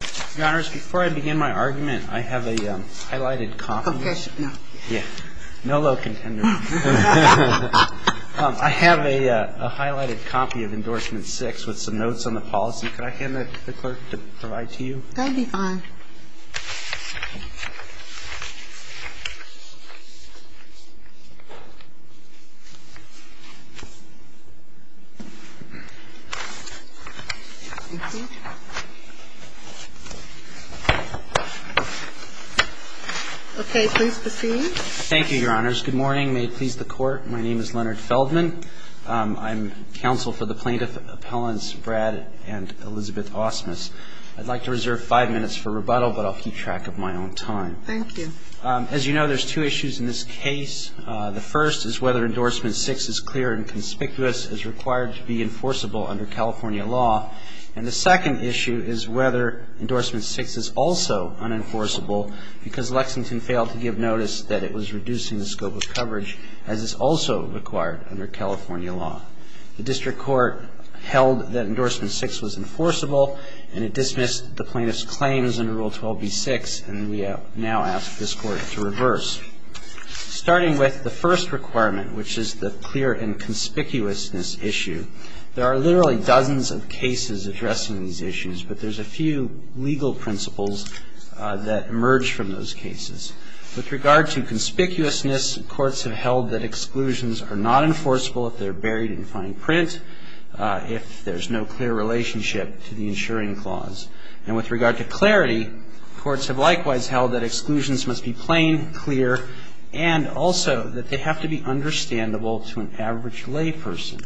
Before I begin my argument, I have a highlighted copy of Endorsement 6 with some notes on the policy. Could I hand that to the clerk to provide to you? That would be fine. Okay, please proceed. Thank you, Your Honors. Good morning. May it please the Court, my name is Leonard Feldman. I'm counsel for the plaintiff appellants Brad and Elizabeth Ausmus. I'd like to reserve five minutes for rebuttal, but I'll keep track of my own time. Thank you. As you know, there's two issues in this case. The first is whether Endorsement 6 is clear and conspicuous as required to be enforceable under California law. And the second issue is whether Endorsement 6 is also unenforceable because Lexington failed to give notice that it was reducing the scope of coverage as is also required under California law. The District Court held that Endorsement 6 was enforceable and it dismissed the plaintiff's claims under Rule 12b-6 and we now ask this Court to reverse. Starting with the first requirement, which is the clear and conspicuousness issue, there are literally dozens of cases addressing these issues, but there's a few legal principles that emerge from those cases. With regard to conspicuousness, courts have held that exclusions are not enforceable if they're buried in fine print, if there's no clear relationship to the insuring clause. And with regard to clarity, courts have likewise held that exclusions must be plain, clear, and also that they have to be understandable to an average layperson.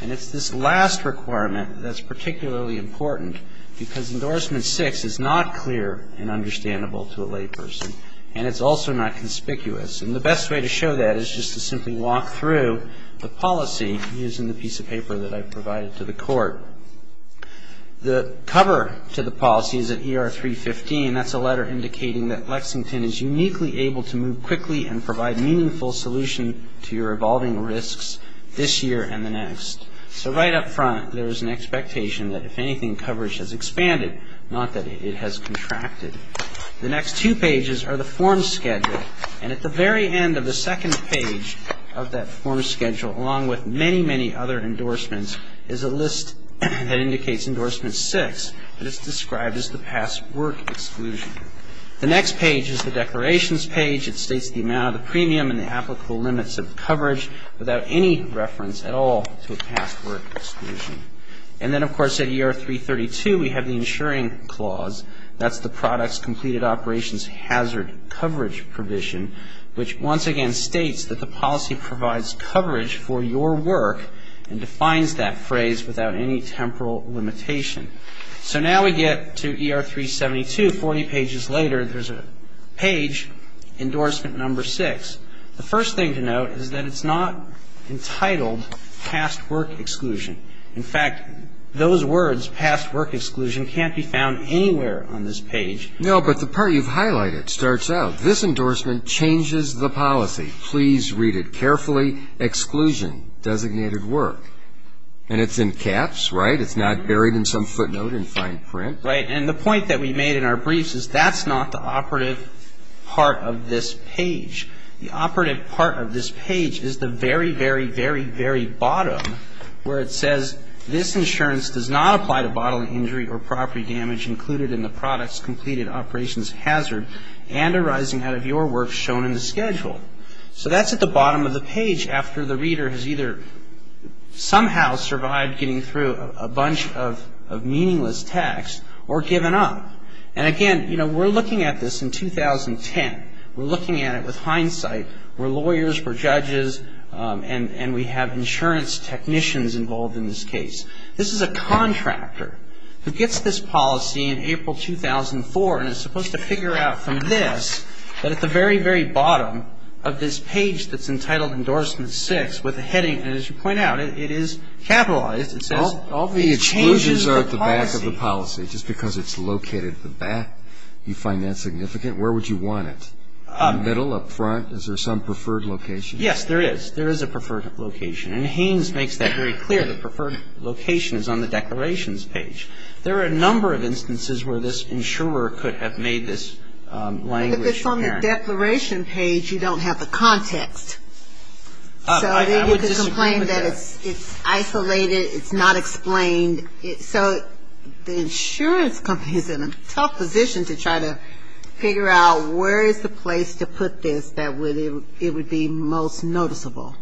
And it's this last requirement that's particularly important because Endorsement 6 is not clear and understandable to a layperson and it's also not conspicuous. And the best way to show that is just to simply walk through the policy using the piece of paper that I've provided to the Court. The cover to the policy is at ER 315. That's a letter indicating that Lexington is uniquely able to move quickly and provide meaningful solution to your evolving risks this year and the next. So right up front, there is an expectation that if anything, coverage has expanded, not that it has contracted. The next two pages are the form schedule. And at the very end of the second page of that form schedule, along with many, many other endorsements, is a list that indicates Endorsement 6, but it's described as the past work exclusion. The next page is the declarations page. It states the amount of the premium and the applicable limits of coverage without any reference at all to a past work exclusion. And then, of course, at ER 332, we have the insuring clause. That's the product's completed operations hazard coverage provision, which once again states that the policy provides coverage for your work and defines that phrase without any temporal limitation. So now we get to ER 372, 40 pages later. There's a page, Endorsement 6. The first thing to note is that it's not entitled past work exclusion. In fact, those words, past work exclusion, can't be found anywhere on this page. No, but the part you've highlighted starts out. This endorsement changes the policy. Please read it carefully. Exclusion, designated work. And it's in caps, right? It's not buried in some footnote in fine print. Right. And the point that we made in our briefs is that's not the operative part of this page. The operative part of this page is the very, very, very, very bottom where it says, this insurance does not apply to bodily injury or property damage included in the product's completed operations hazard and arising out of your work shown in the schedule. So that's at the bottom of the page after the reader has either somehow survived getting through a bunch of meaningless text or given up. And again, you know, we're looking at this in 2010. We're looking at it with hindsight. We're lawyers. We're judges. And we have insurance technicians involved in this case. This is a contractor who gets this policy in April 2004, and is supposed to figure out from this that at the very, very bottom of this page that's entitled Endorsement 6 with a heading, and as you point out, it is capitalized. It says it changes the policy. All the exclusions are at the back of the policy. Just because it's located at the back, you find that significant? Where would you want it? In the middle, up front? Is there some preferred location? Yes, there is. There is a preferred location. And Haynes makes that very clear. The preferred location is on the declarations page. There are a number of instances where this insurer could have made this language apparent. But if it's on the declaration page, you don't have the context. I would disagree with that. So then you could complain that it's isolated, it's not explained. So the insurance company is in a tough position to try to figure out where is the place to put this that it would be most noticeable.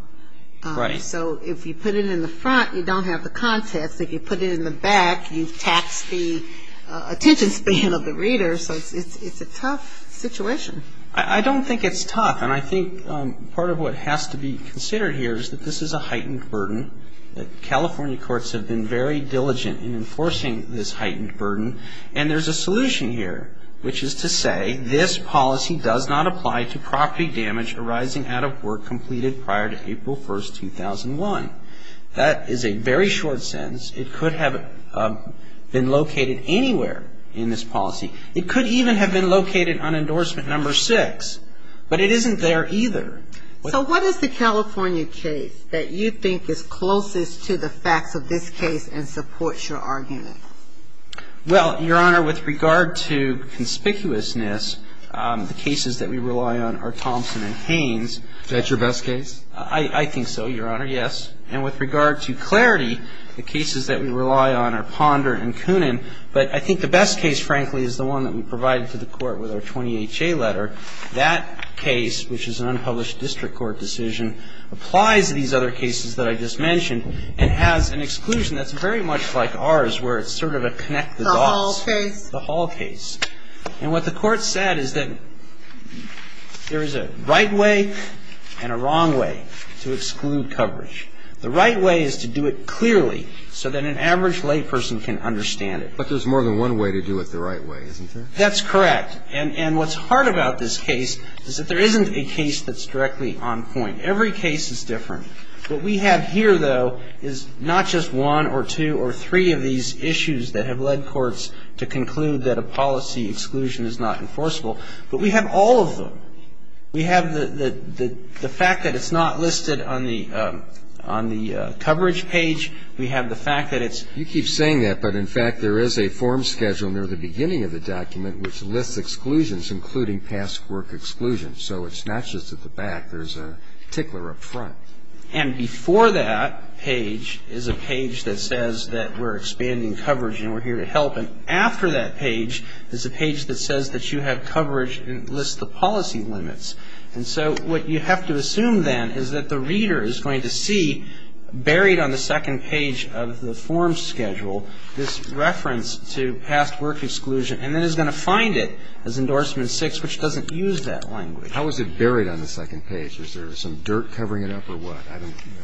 Right. So if you put it in the front, you don't have the context. If you put it in the back, you've taxed the attention span of the reader. So it's a tough situation. I don't think it's tough. And I think part of what has to be considered here is that this is a heightened burden, that California courts have been very diligent in enforcing this heightened burden, and there's a solution here, which is to say, this policy does not apply to property damage arising out of work completed prior to April 1, 2001. That is a very short sentence. It could have been located anywhere in this policy. It could even have been located on endorsement number six, but it isn't there either. So what is the California case that you think is closest to the facts of this case and supports your argument? Well, Your Honor, with regard to conspicuousness, the cases that we rely on are Thompson and Haynes. Is that your best case? I think so, Your Honor, yes. And with regard to clarity, the cases that we rely on are Ponder and Coonan. But I think the best case, frankly, is the one that we provided to the Court with our 20HA letter. That case, which is an unpublished district court decision, applies to these other cases that I just mentioned and has an exclusion that's very much like ours, where it's sort of a connect the dots. The Hall case. The Hall case. And what the Court said is that there is a right way and a wrong way to exclude coverage. The right way is to do it clearly so that an average layperson can understand it. But there's more than one way to do it the right way, isn't there? That's correct. And what's hard about this case is that there isn't a case that's directly on point. Every case is different. What we have here, though, is not just one or two or three of these issues that have led courts to conclude that a policy exclusion is not enforceable, but we have all of them. We have the fact that it's not listed on the coverage page. We have the fact that it's... You keep saying that, but, in fact, there is a form scheduled near the beginning of the document which lists exclusions, including past work exclusion. So it's not just at the back. There's a tickler up front. And before that page is a page that says that we're expanding coverage and we're here to help. But after that page is a page that says that you have coverage and it lists the policy limits. And so what you have to assume then is that the reader is going to see, buried on the second page of the form schedule, this reference to past work exclusion, and then is going to find it as Endorsement 6, which doesn't use that language. How is it buried on the second page? Is there some dirt covering it up or what?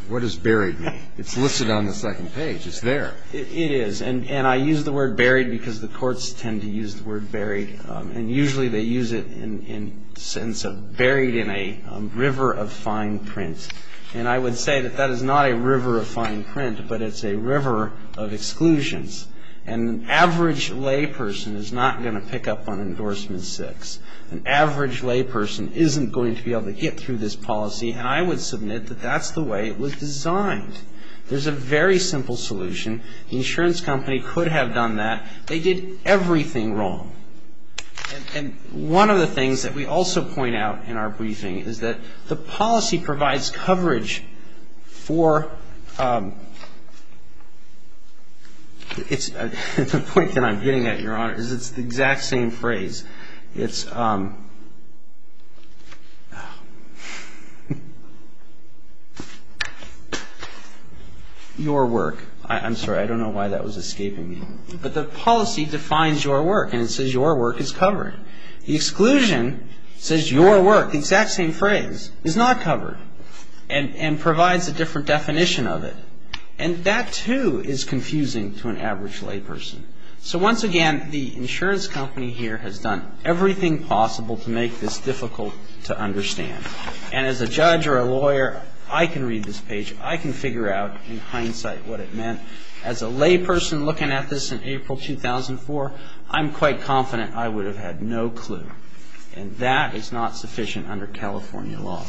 What does buried mean? It's listed on the second page. It's there. It is. And I use the word buried because the courts tend to use the word buried. And usually they use it in the sense of buried in a river of fine print. And I would say that that is not a river of fine print, but it's a river of exclusions. And an average layperson is not going to pick up on Endorsement 6. An average layperson isn't going to be able to get through this policy. And I would submit that that's the way it was designed. There's a very simple solution. The insurance company could have done that. They did everything wrong. And one of the things that we also point out in our briefing is that the policy provides coverage for the point that I'm getting at, Your Honor, is it's the exact same phrase. It's your work. I'm sorry, I don't know why that was escaping me. But the policy defines your work, and it says your work is covered. The exclusion says your work, the exact same phrase, is not covered and provides a different definition of it. And that, too, is confusing to an average layperson. So once again, the insurance company here has done everything possible to make this difficult to understand. And as a judge or a lawyer, I can read this page. I can figure out in hindsight what it meant. As a layperson looking at this in April 2004, I'm quite confident I would have had no clue. And that is not sufficient under California law.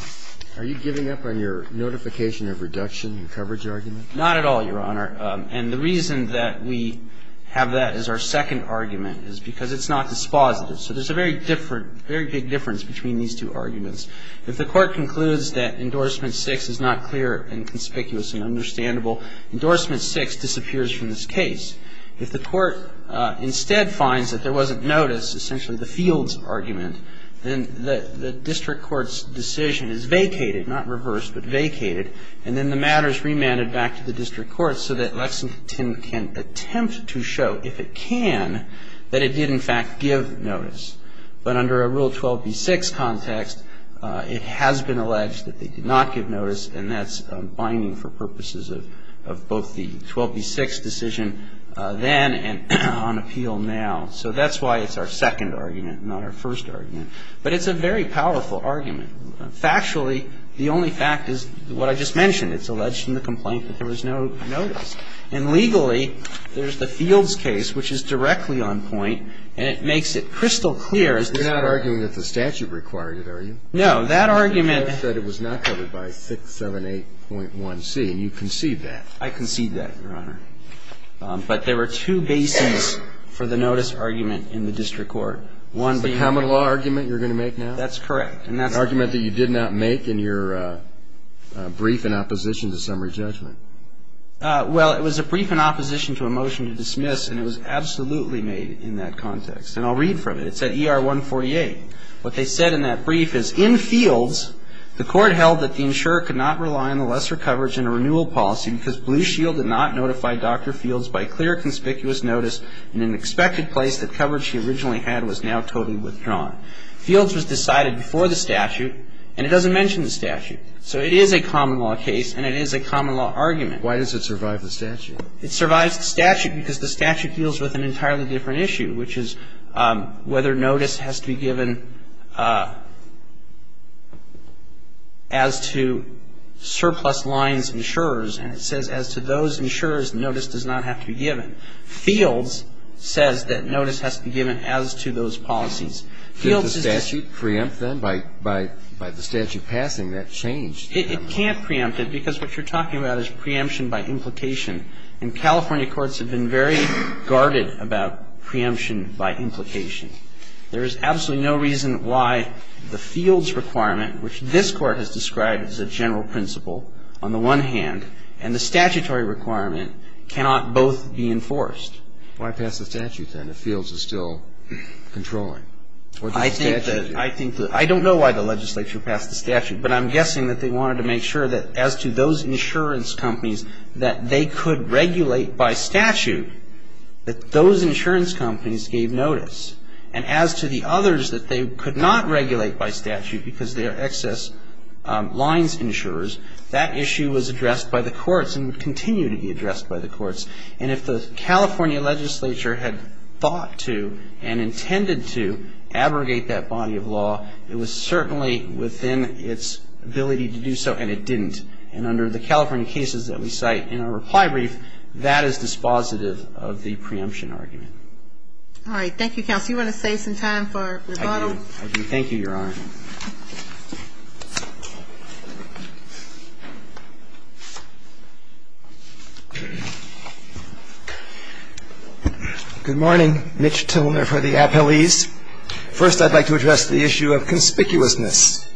Are you giving up on your notification of reduction in coverage argument? Not at all, Your Honor. And the reason that we have that as our second argument is because it's not dispositive. So there's a very different, very big difference between these two arguments. If the court concludes that Endorsement 6 is not clear and conspicuous and understandable, Endorsement 6 disappears from this case. If the court instead finds that there wasn't notice, essentially the fields argument, then the district court's decision is vacated, not reversed, but vacated, and then the matter is remanded back to the district court so that Lexington can attempt to show, if it can, that it did, in fact, give notice. But under a Rule 12b-6 context, it has been alleged that they did not give notice, and that's binding for purposes of both the 12b-6 decision then and on appeal now. So that's why it's our second argument, not our first argument. But it's a very powerful argument. Factually, the only fact is what I just mentioned. It's alleged in the complaint that there was no notice. And legally, there's the fields case, which is directly on point, and it makes it crystal clear. You're not arguing that the statute required it, are you? No. That argument. You said it was not covered by 678.1c, and you conceived that. I conceived that, Your Honor. But there were two bases for the notice argument in the district court. One being the common law argument you're going to make now? That's correct. An argument that you did not make in your brief in opposition to summary judgment. Well, it was a brief in opposition to a motion to dismiss, and it was absolutely made in that context. And I'll read from it. It's at ER 148. What they said in that brief is, In Fields, the court held that the insurer could not rely on the lesser coverage in a renewal policy because Blue Shield did not notify Dr. Fields by clear conspicuous notice in an expected place that coverage she originally had was now totally withdrawn. Fields was decided before the statute, and it doesn't mention the statute. So it is a common law case, and it is a common law argument. Why does it survive the statute? It survives the statute because the statute deals with an entirely different issue, which is whether notice has to be given as to surplus lines insurers, and it says as to those insurers notice does not have to be given. Fields says that notice has to be given as to those policies. So the statute preempts them by the statute passing that change. It can't preempt it because what you're talking about is preemption by implication. And California courts have been very guarded about preemption by implication. There is absolutely no reason why the Fields requirement, which this Court has described as a general principle on the one hand, and the statutory requirement cannot both be enforced. Why pass the statute then if Fields is still controlling? I think that I don't know why the legislature passed the statute, but I'm guessing that they wanted to make sure that as to those insurance companies that they could regulate by statute that those insurance companies gave notice. And as to the others that they could not regulate by statute because they are excess lines insurers, that issue was addressed by the courts and would continue to be addressed by the courts. And if the California legislature had thought to and intended to abrogate that body of law, it was certainly within its ability to do so, and it didn't. And under the California cases that we cite in our reply brief, that is dispositive of the preemption argument. All right. Thank you, counsel. You want to save some time for rebuttal? I do. Thank you, Your Honor. Good morning. Mitch Tilner for the appellees. First, I'd like to address the issue of conspicuousness.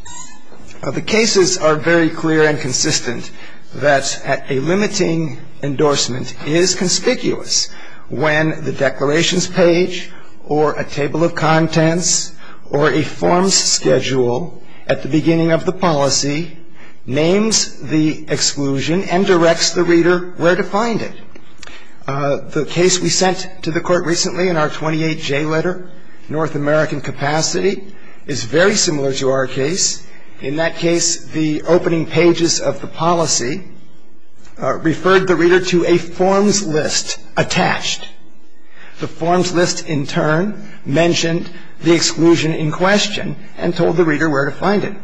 The cases are very clear and consistent that a limiting endorsement is conspicuous when the declarations page or a table of contents or a form's schedule is not clear. And I think it's important to note that the form's schedule at the beginning of the policy names the exclusion and directs the reader where to find it. The case we sent to the court recently in our 28J letter, North American Capacity, is very similar to our case. In that case, the opening pages of the policy referred the reader to a form's list attached. The form's list, in turn, mentioned the exclusion in question and told the reader where to find it.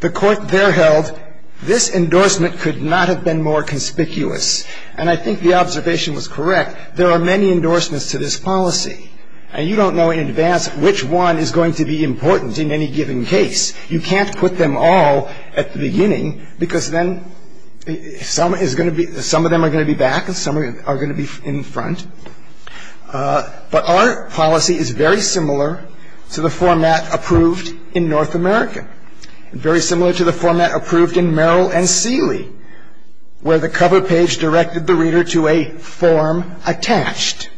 The court there held this endorsement could not have been more conspicuous. And I think the observation was correct. There are many endorsements to this policy. And you don't know in advance which one is going to be important in any given case. You can't put them all at the beginning because then some is going to be ‑‑ some of them are going to be back and some are going to be in front. But our policy is very similar to the format approved in North America, and very similar to the format approved in Merrill and Seeley, where the cover page directed the reader to a form attached,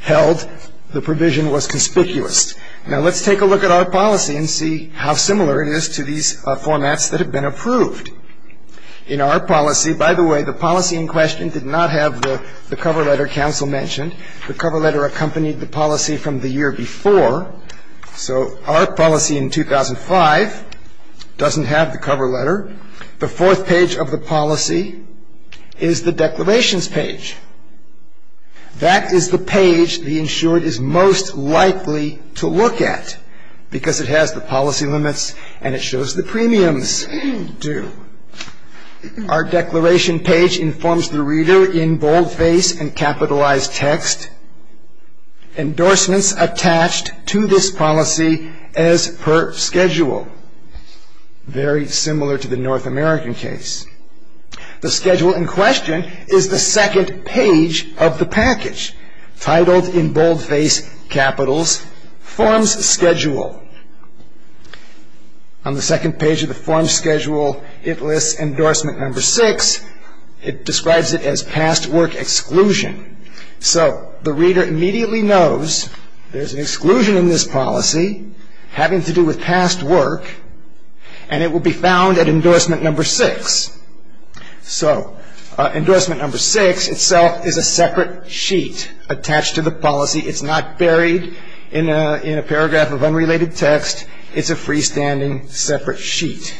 held the provision was conspicuous. Now, let's take a look at our policy and see how similar it is to these formats that have been approved. In our policy, by the way, the policy in question did not have the cover letter counsel mentioned. The cover letter accompanied the policy from the year before. So our policy in 2005 doesn't have the cover letter. The fourth page of the policy is the declarations page. That is the page the insured is most likely to look at because it has the policy limits and it shows the premiums due. Our declaration page informs the reader in boldface and capitalized text, endorsements attached to this policy as per schedule. Very similar to the North American case. The schedule in question is the second page of the package, titled in boldface capitals, forms schedule. On the second page of the forms schedule, it lists endorsement number six. It describes it as past work exclusion. So the reader immediately knows there's an exclusion in this policy having to do with past work, and it will be found at endorsement number six. So endorsement number six itself is a separate sheet attached to the policy. It's not buried in a paragraph of unrelated text. It's a freestanding separate sheet.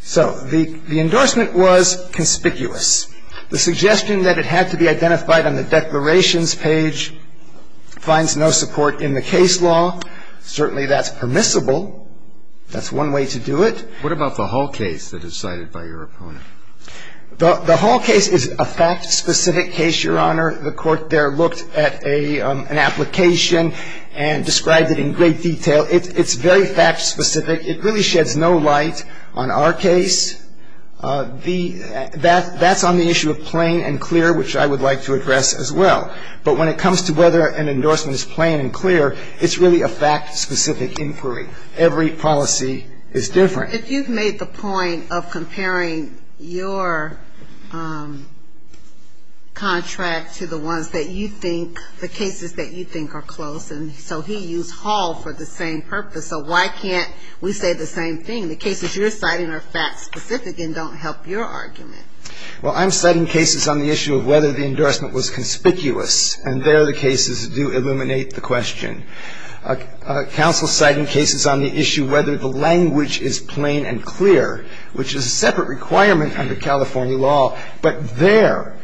So the endorsement was conspicuous. The suggestion that it had to be identified on the declarations page finds no support in the case law. Certainly that's permissible. That's one way to do it. What about the Hall case that is cited by your opponent? The Hall case is a fact-specific case, Your Honor. The Court there looked at an application and described it in great detail. It's very fact-specific. It really sheds no light on our case. That's on the issue of plain and clear, which I would like to address as well. But when it comes to whether an endorsement is plain and clear, it's really a fact-specific inquiry. Every policy is different. If you've made the point of comparing your contract to the ones that you think, the cases that you think are close, and so he used Hall for the same purpose, so why can't we say the same thing? The cases you're citing are fact-specific and don't help your argument. Well, I'm citing cases on the issue of whether the endorsement was conspicuous, and there the cases do illuminate the question. Counsel citing cases on the issue whether the language is plain and clear, which is a separate requirement under California law, but there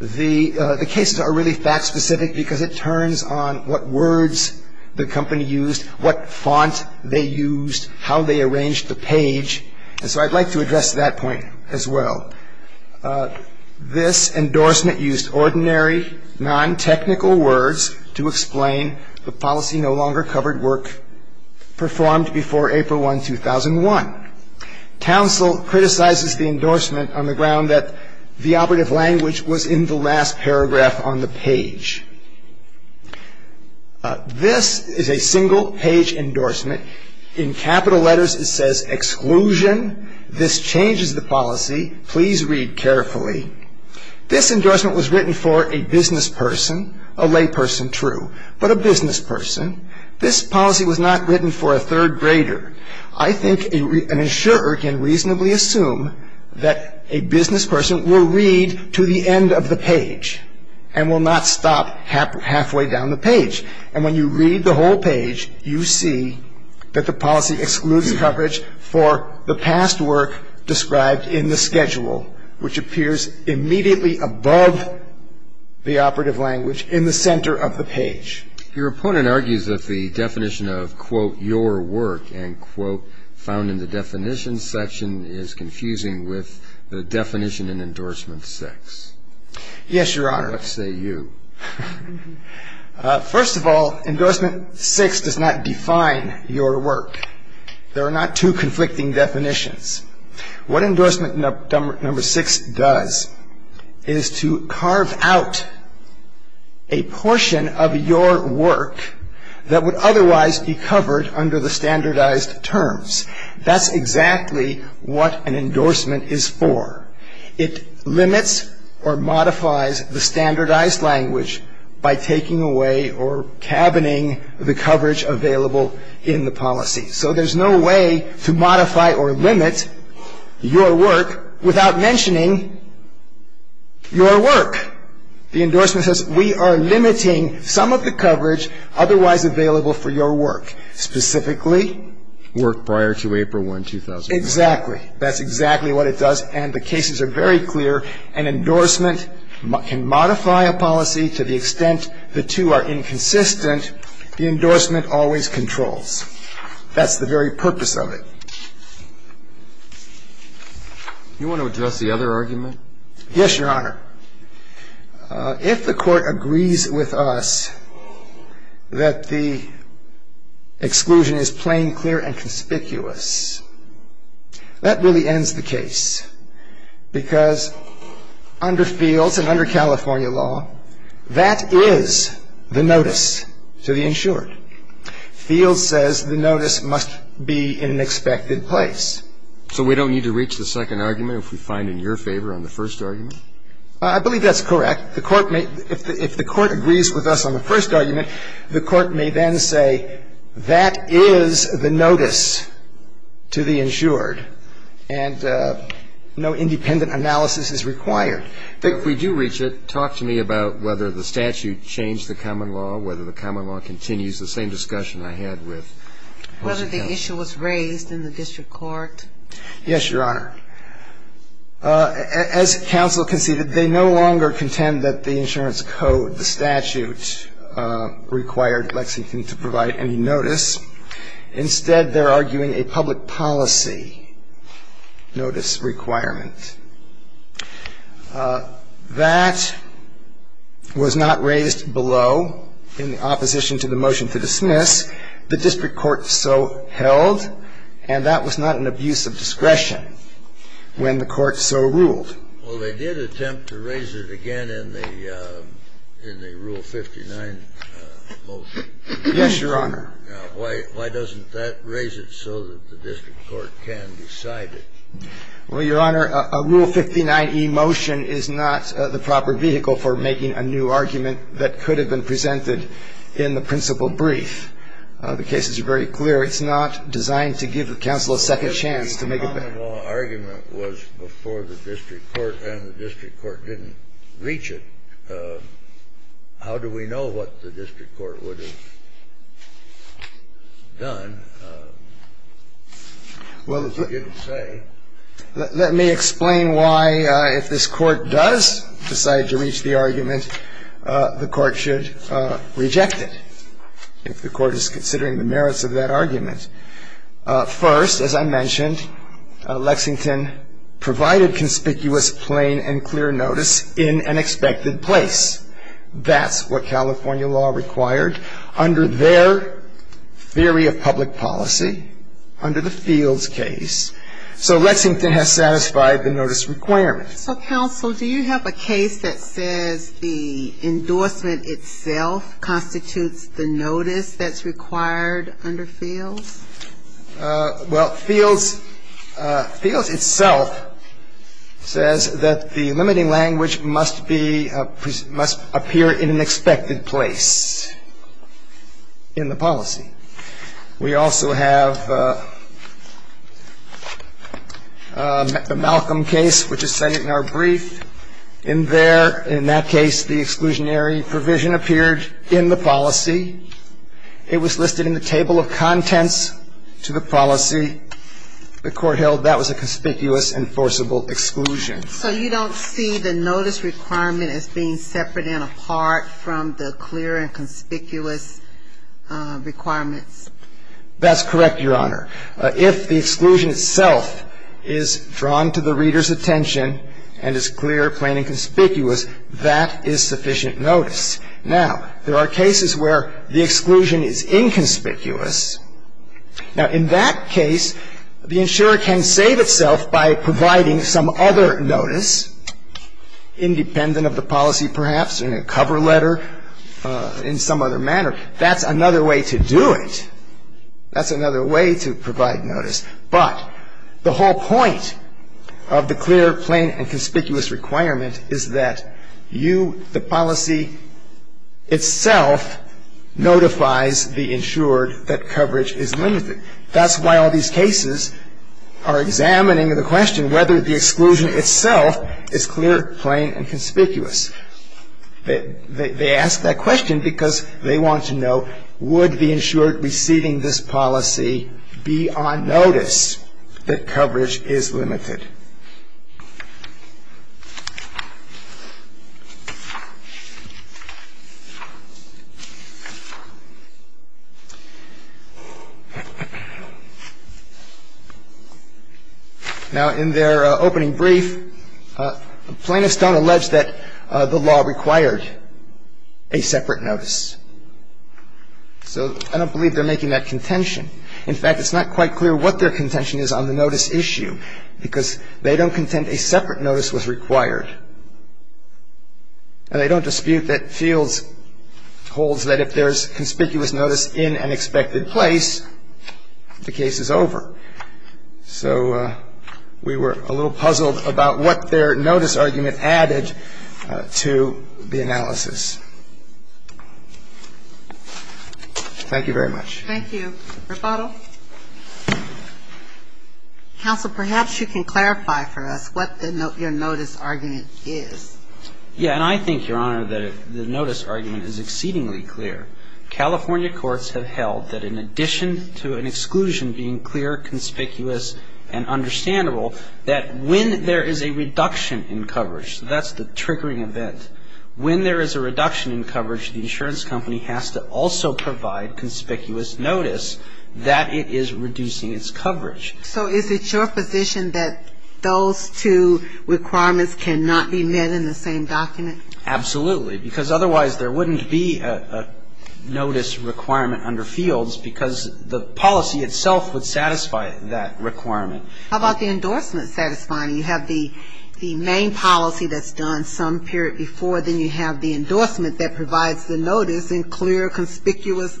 the cases are really fact-specific because it turns on what words the company used, what font they used, how they arranged the page. And so I'd like to address that point as well. This endorsement used ordinary, non-technical words to explain the policy no longer covered work performed before April 1, 2001. Counsel criticizes the endorsement on the ground that the operative language was in the last paragraph on the page. This is a single-page endorsement. In capital letters, it says, This changes the policy. Please read carefully. This endorsement was written for a business person, a lay person, true, but a business person. This policy was not written for a third grader. I think an insurer can reasonably assume that a business person will read to the end of the page and will not stop halfway down the page. And when you read the whole page, you see that the policy excludes coverage for the past work described in the schedule, which appears immediately above the operative language in the center of the page. Your opponent argues that the definition of, quote, your work, and, quote, found in the definition section is confusing with the definition in endorsement six. Yes, Your Honor. Let's say you. First of all, endorsement six does not define your work. There are not two conflicting definitions. What endorsement number six does is to carve out a portion of your work that would otherwise be covered under the standardized terms. That's exactly what an endorsement is for. It limits or modifies the standardized language by taking away or cabining the coverage available in the policy. So there's no way to modify or limit your work without mentioning your work. The endorsement says we are limiting some of the coverage otherwise available for your work. Specifically? Work prior to April 1, 2009. Exactly. That's exactly what it does, and the cases are very clear. An endorsement can modify a policy to the extent the two are inconsistent. The endorsement always controls. That's the very purpose of it. You want to address the other argument? Yes, Your Honor. If the Court agrees with us that the exclusion is plain, clear, and conspicuous, that really ends the case, because under Fields and under California law, that is the notice to the insured. Fields says the notice must be in an expected place. So we don't need to reach the second argument if we find in your favor on the first argument? I believe that's correct. The Court may — if the Court agrees with us on the first argument, the Court may then say that is the notice to the insured, and no independent analysis is required. But if we do reach it, talk to me about whether the statute changed the common law, whether the common law continues the same discussion I had with — Whether the issue was raised in the district court. Yes, Your Honor. As counsel conceded, they no longer contend that the insurance code, the statute, required Lexington to provide any notice. Instead, they're arguing a public policy notice requirement. That was not raised below in opposition to the motion to dismiss. The district court so held, and that was not an abuse of discretion when the court so ruled. Well, they did attempt to raise it again in the Rule 59 motion. Yes, Your Honor. Why doesn't that raise it so that the district court can decide it? Well, Your Honor, a Rule 59e motion is not the proper vehicle for making a new argument that could have been presented in the principal brief. The cases are very clear. It's not designed to give counsel a second chance to make a better argument. Well, if the common law argument was before the district court and the district court didn't reach it, how do we know what the district court would have done if it didn't say? Let me explain why, if this Court does decide to reach the argument, the Court should reject it, if the Court is considering the merits of that argument. First, as I mentioned, Lexington provided conspicuous, plain, and clear notice in an expected place. That's what California law required under their theory of public policy, under the Fields case. So Lexington has satisfied the notice requirement. So, counsel, do you have a case that says the endorsement itself constitutes the notice that's required under Fields? Well, Fields itself says that the limiting language must be, must appear in an expected place in the policy. We also have the Malcolm case, which is cited in our brief. In there, in that case, the exclusionary provision appeared in the policy. It was listed in the table of contents to the policy. The Court held that was a conspicuous and forcible exclusion. So you don't see the notice requirement as being separate and apart from the clear and conspicuous requirements? That's correct, Your Honor. If the exclusion itself is drawn to the reader's attention and is clear, plain, and conspicuous, that is sufficient notice. Now, there are cases where the exclusion is inconspicuous. Now, in that case, the insurer can save itself by providing some other notice independent of the policy, perhaps, in a cover letter, in some other manner. That's another way to do it. That's another way to provide notice. But the whole point of the clear, plain, and conspicuous requirement is that you, the policy itself, notifies the insured that coverage is limited. That's why all these cases are examining the question whether the exclusion itself is clear, plain, and conspicuous. They ask that question because they want to know, would the insured receiving this policy be on notice that coverage is limited? Now, in their opening brief, plaintiffs don't allege that the law required a separate notice. So I don't believe they're making that contention. In fact, it's not quite clear what their contention is on the notice issue because they don't contend a separate notice was required. And they don't dispute that Fields holds that if there's conspicuous notice in an expected place, the case is over. So we were a little puzzled about what their notice argument added to the analysis. Thank you very much. Thank you. Rebuttal. Counsel, perhaps you can clarify for us what your notice argument is. Yeah, and I think, Your Honor, that the notice argument is exceedingly clear. California courts have held that in addition to an exclusion being clear, conspicuous, and understandable, that when there is a reduction in coverage, so that's the triggering event, when there is a reduction in coverage, the insurance company has to also provide conspicuous notice that it is reducing its coverage. So is it your position that those two requirements cannot be met in the same document? Absolutely, because otherwise there wouldn't be a notice requirement under Fields because the policy itself would satisfy that requirement. How about the endorsement satisfying? You have the main policy that's done some period before, then you have the endorsement that provides the notice in clear, conspicuous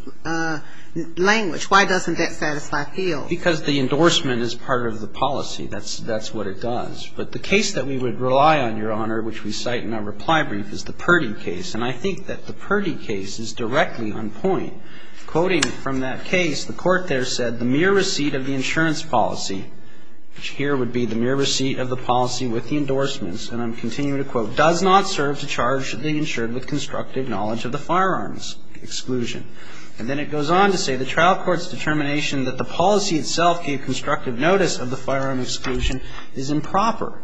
language. Why doesn't that satisfy Fields? Because the endorsement is part of the policy. That's what it does. But the case that we would rely on, Your Honor, which we cite in our reply brief, is the Purdy case. And I think that the Purdy case is directly on point. Quoting from that case, the court there said, the mere receipt of the insurance policy, which here would be the mere receipt of the policy with the endorsements, and I'm continuing to quote, does not serve to charge the insured with constructive knowledge of the firearms exclusion. And then it goes on to say, the trial court's determination that the policy itself gave constructive notice of the firearms exclusion is improper.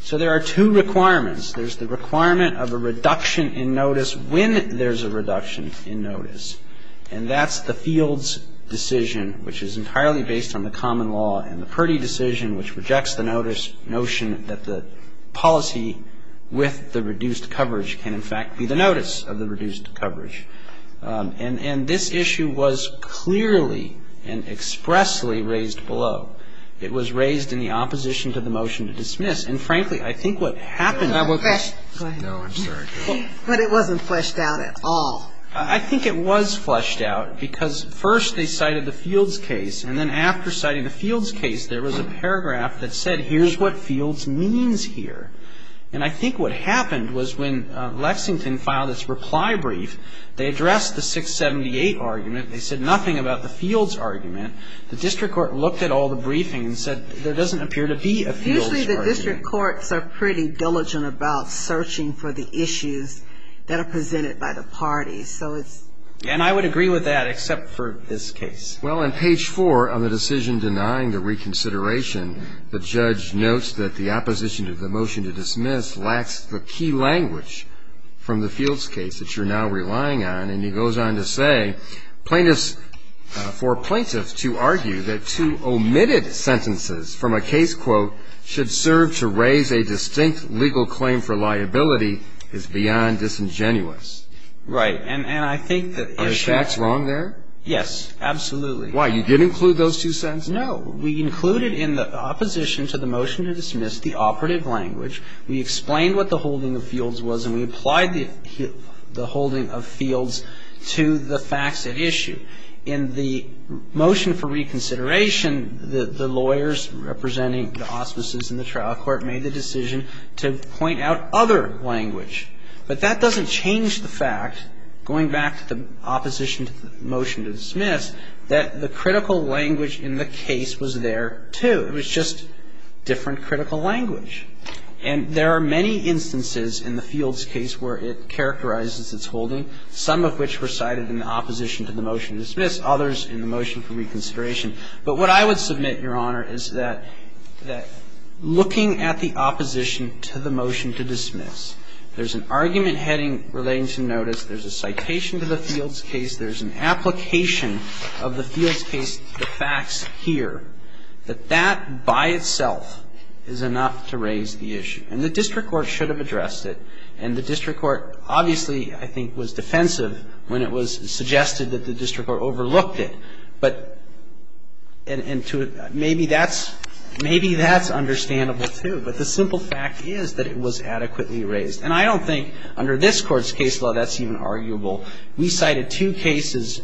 So there are two requirements. There's the requirement of a reduction in notice when there's a reduction in notice. And that's the Fields decision, which is entirely based on the common law, and the Purdy decision, which rejects the notion that the policy with the reduced coverage can in fact be the notice of the reduced coverage. And this issue was clearly and expressly raised below. It was raised in the opposition to the motion to dismiss. And, frankly, I think what happened to that question. No, I'm sorry. But it wasn't fleshed out at all. I think it was fleshed out, because first they cited the Fields case, and then after citing the Fields case, there was a paragraph that said, here's what Fields means here. And I think what happened was when Lexington filed its reply brief, they addressed the 678 argument. They said nothing about the Fields argument. The district court looked at all the briefing and said, there doesn't appear to be a Fields argument. Usually the district courts are pretty diligent about searching for the issues that are presented by the parties. And I would agree with that, except for this case. Well, on page 4 on the decision denying the reconsideration, the judge notes that the opposition to the motion to dismiss lacks the key language from the Fields case that you're now relying on. And he goes on to say, plaintiffs, for plaintiffs to argue that two omitted sentences from a case, quote, should serve to raise a distinct legal claim for liability is beyond disingenuous. Right. And I think that. Are the facts wrong there? Yes. Absolutely. Why? You didn't include those two sentences? No. We included in the opposition to the motion to dismiss the operative language. We explained what the holding of Fields was, and we applied the holding of Fields to the facts at issue. In the motion for reconsideration, the lawyers representing the auspices in the trial court made the decision to point out other language. But that doesn't change the fact, going back to the opposition to the motion to dismiss, that the critical language in the case was there, too. It was just different critical language. And there are many instances in the Fields case where it characterizes its holding, some of which were cited in the opposition to the motion to dismiss, others in the motion for reconsideration. But what I would submit, Your Honor, is that looking at the opposition to the motion to dismiss, there's an argument heading relating to notice, there's a citation to the Fields case, there's an application of the Fields case to the facts here, that that by itself is enough to raise the issue. And the district court should have addressed it. And the district court obviously, I think, was defensive when it was suggested that the district court overlooked it. But maybe that's understandable, too. But the simple fact is that it was adequately raised. And I don't think under this Court's case law that's even arguable. We cited two cases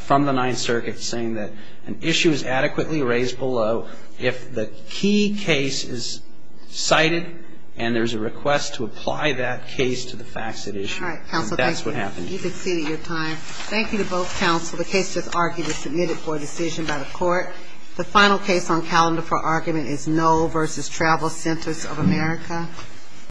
from the Ninth Circuit saying that an issue is adequately raised below if the key case is cited and there's a request to apply that case to the facts at issue. And that's what happened. All right. Counsel, thank you. You can cede your time. Thank you to both counsel. The case just argued is submitted for decision by the Court. The final case on calendar for argument is Knoll v. Travel Centers of America.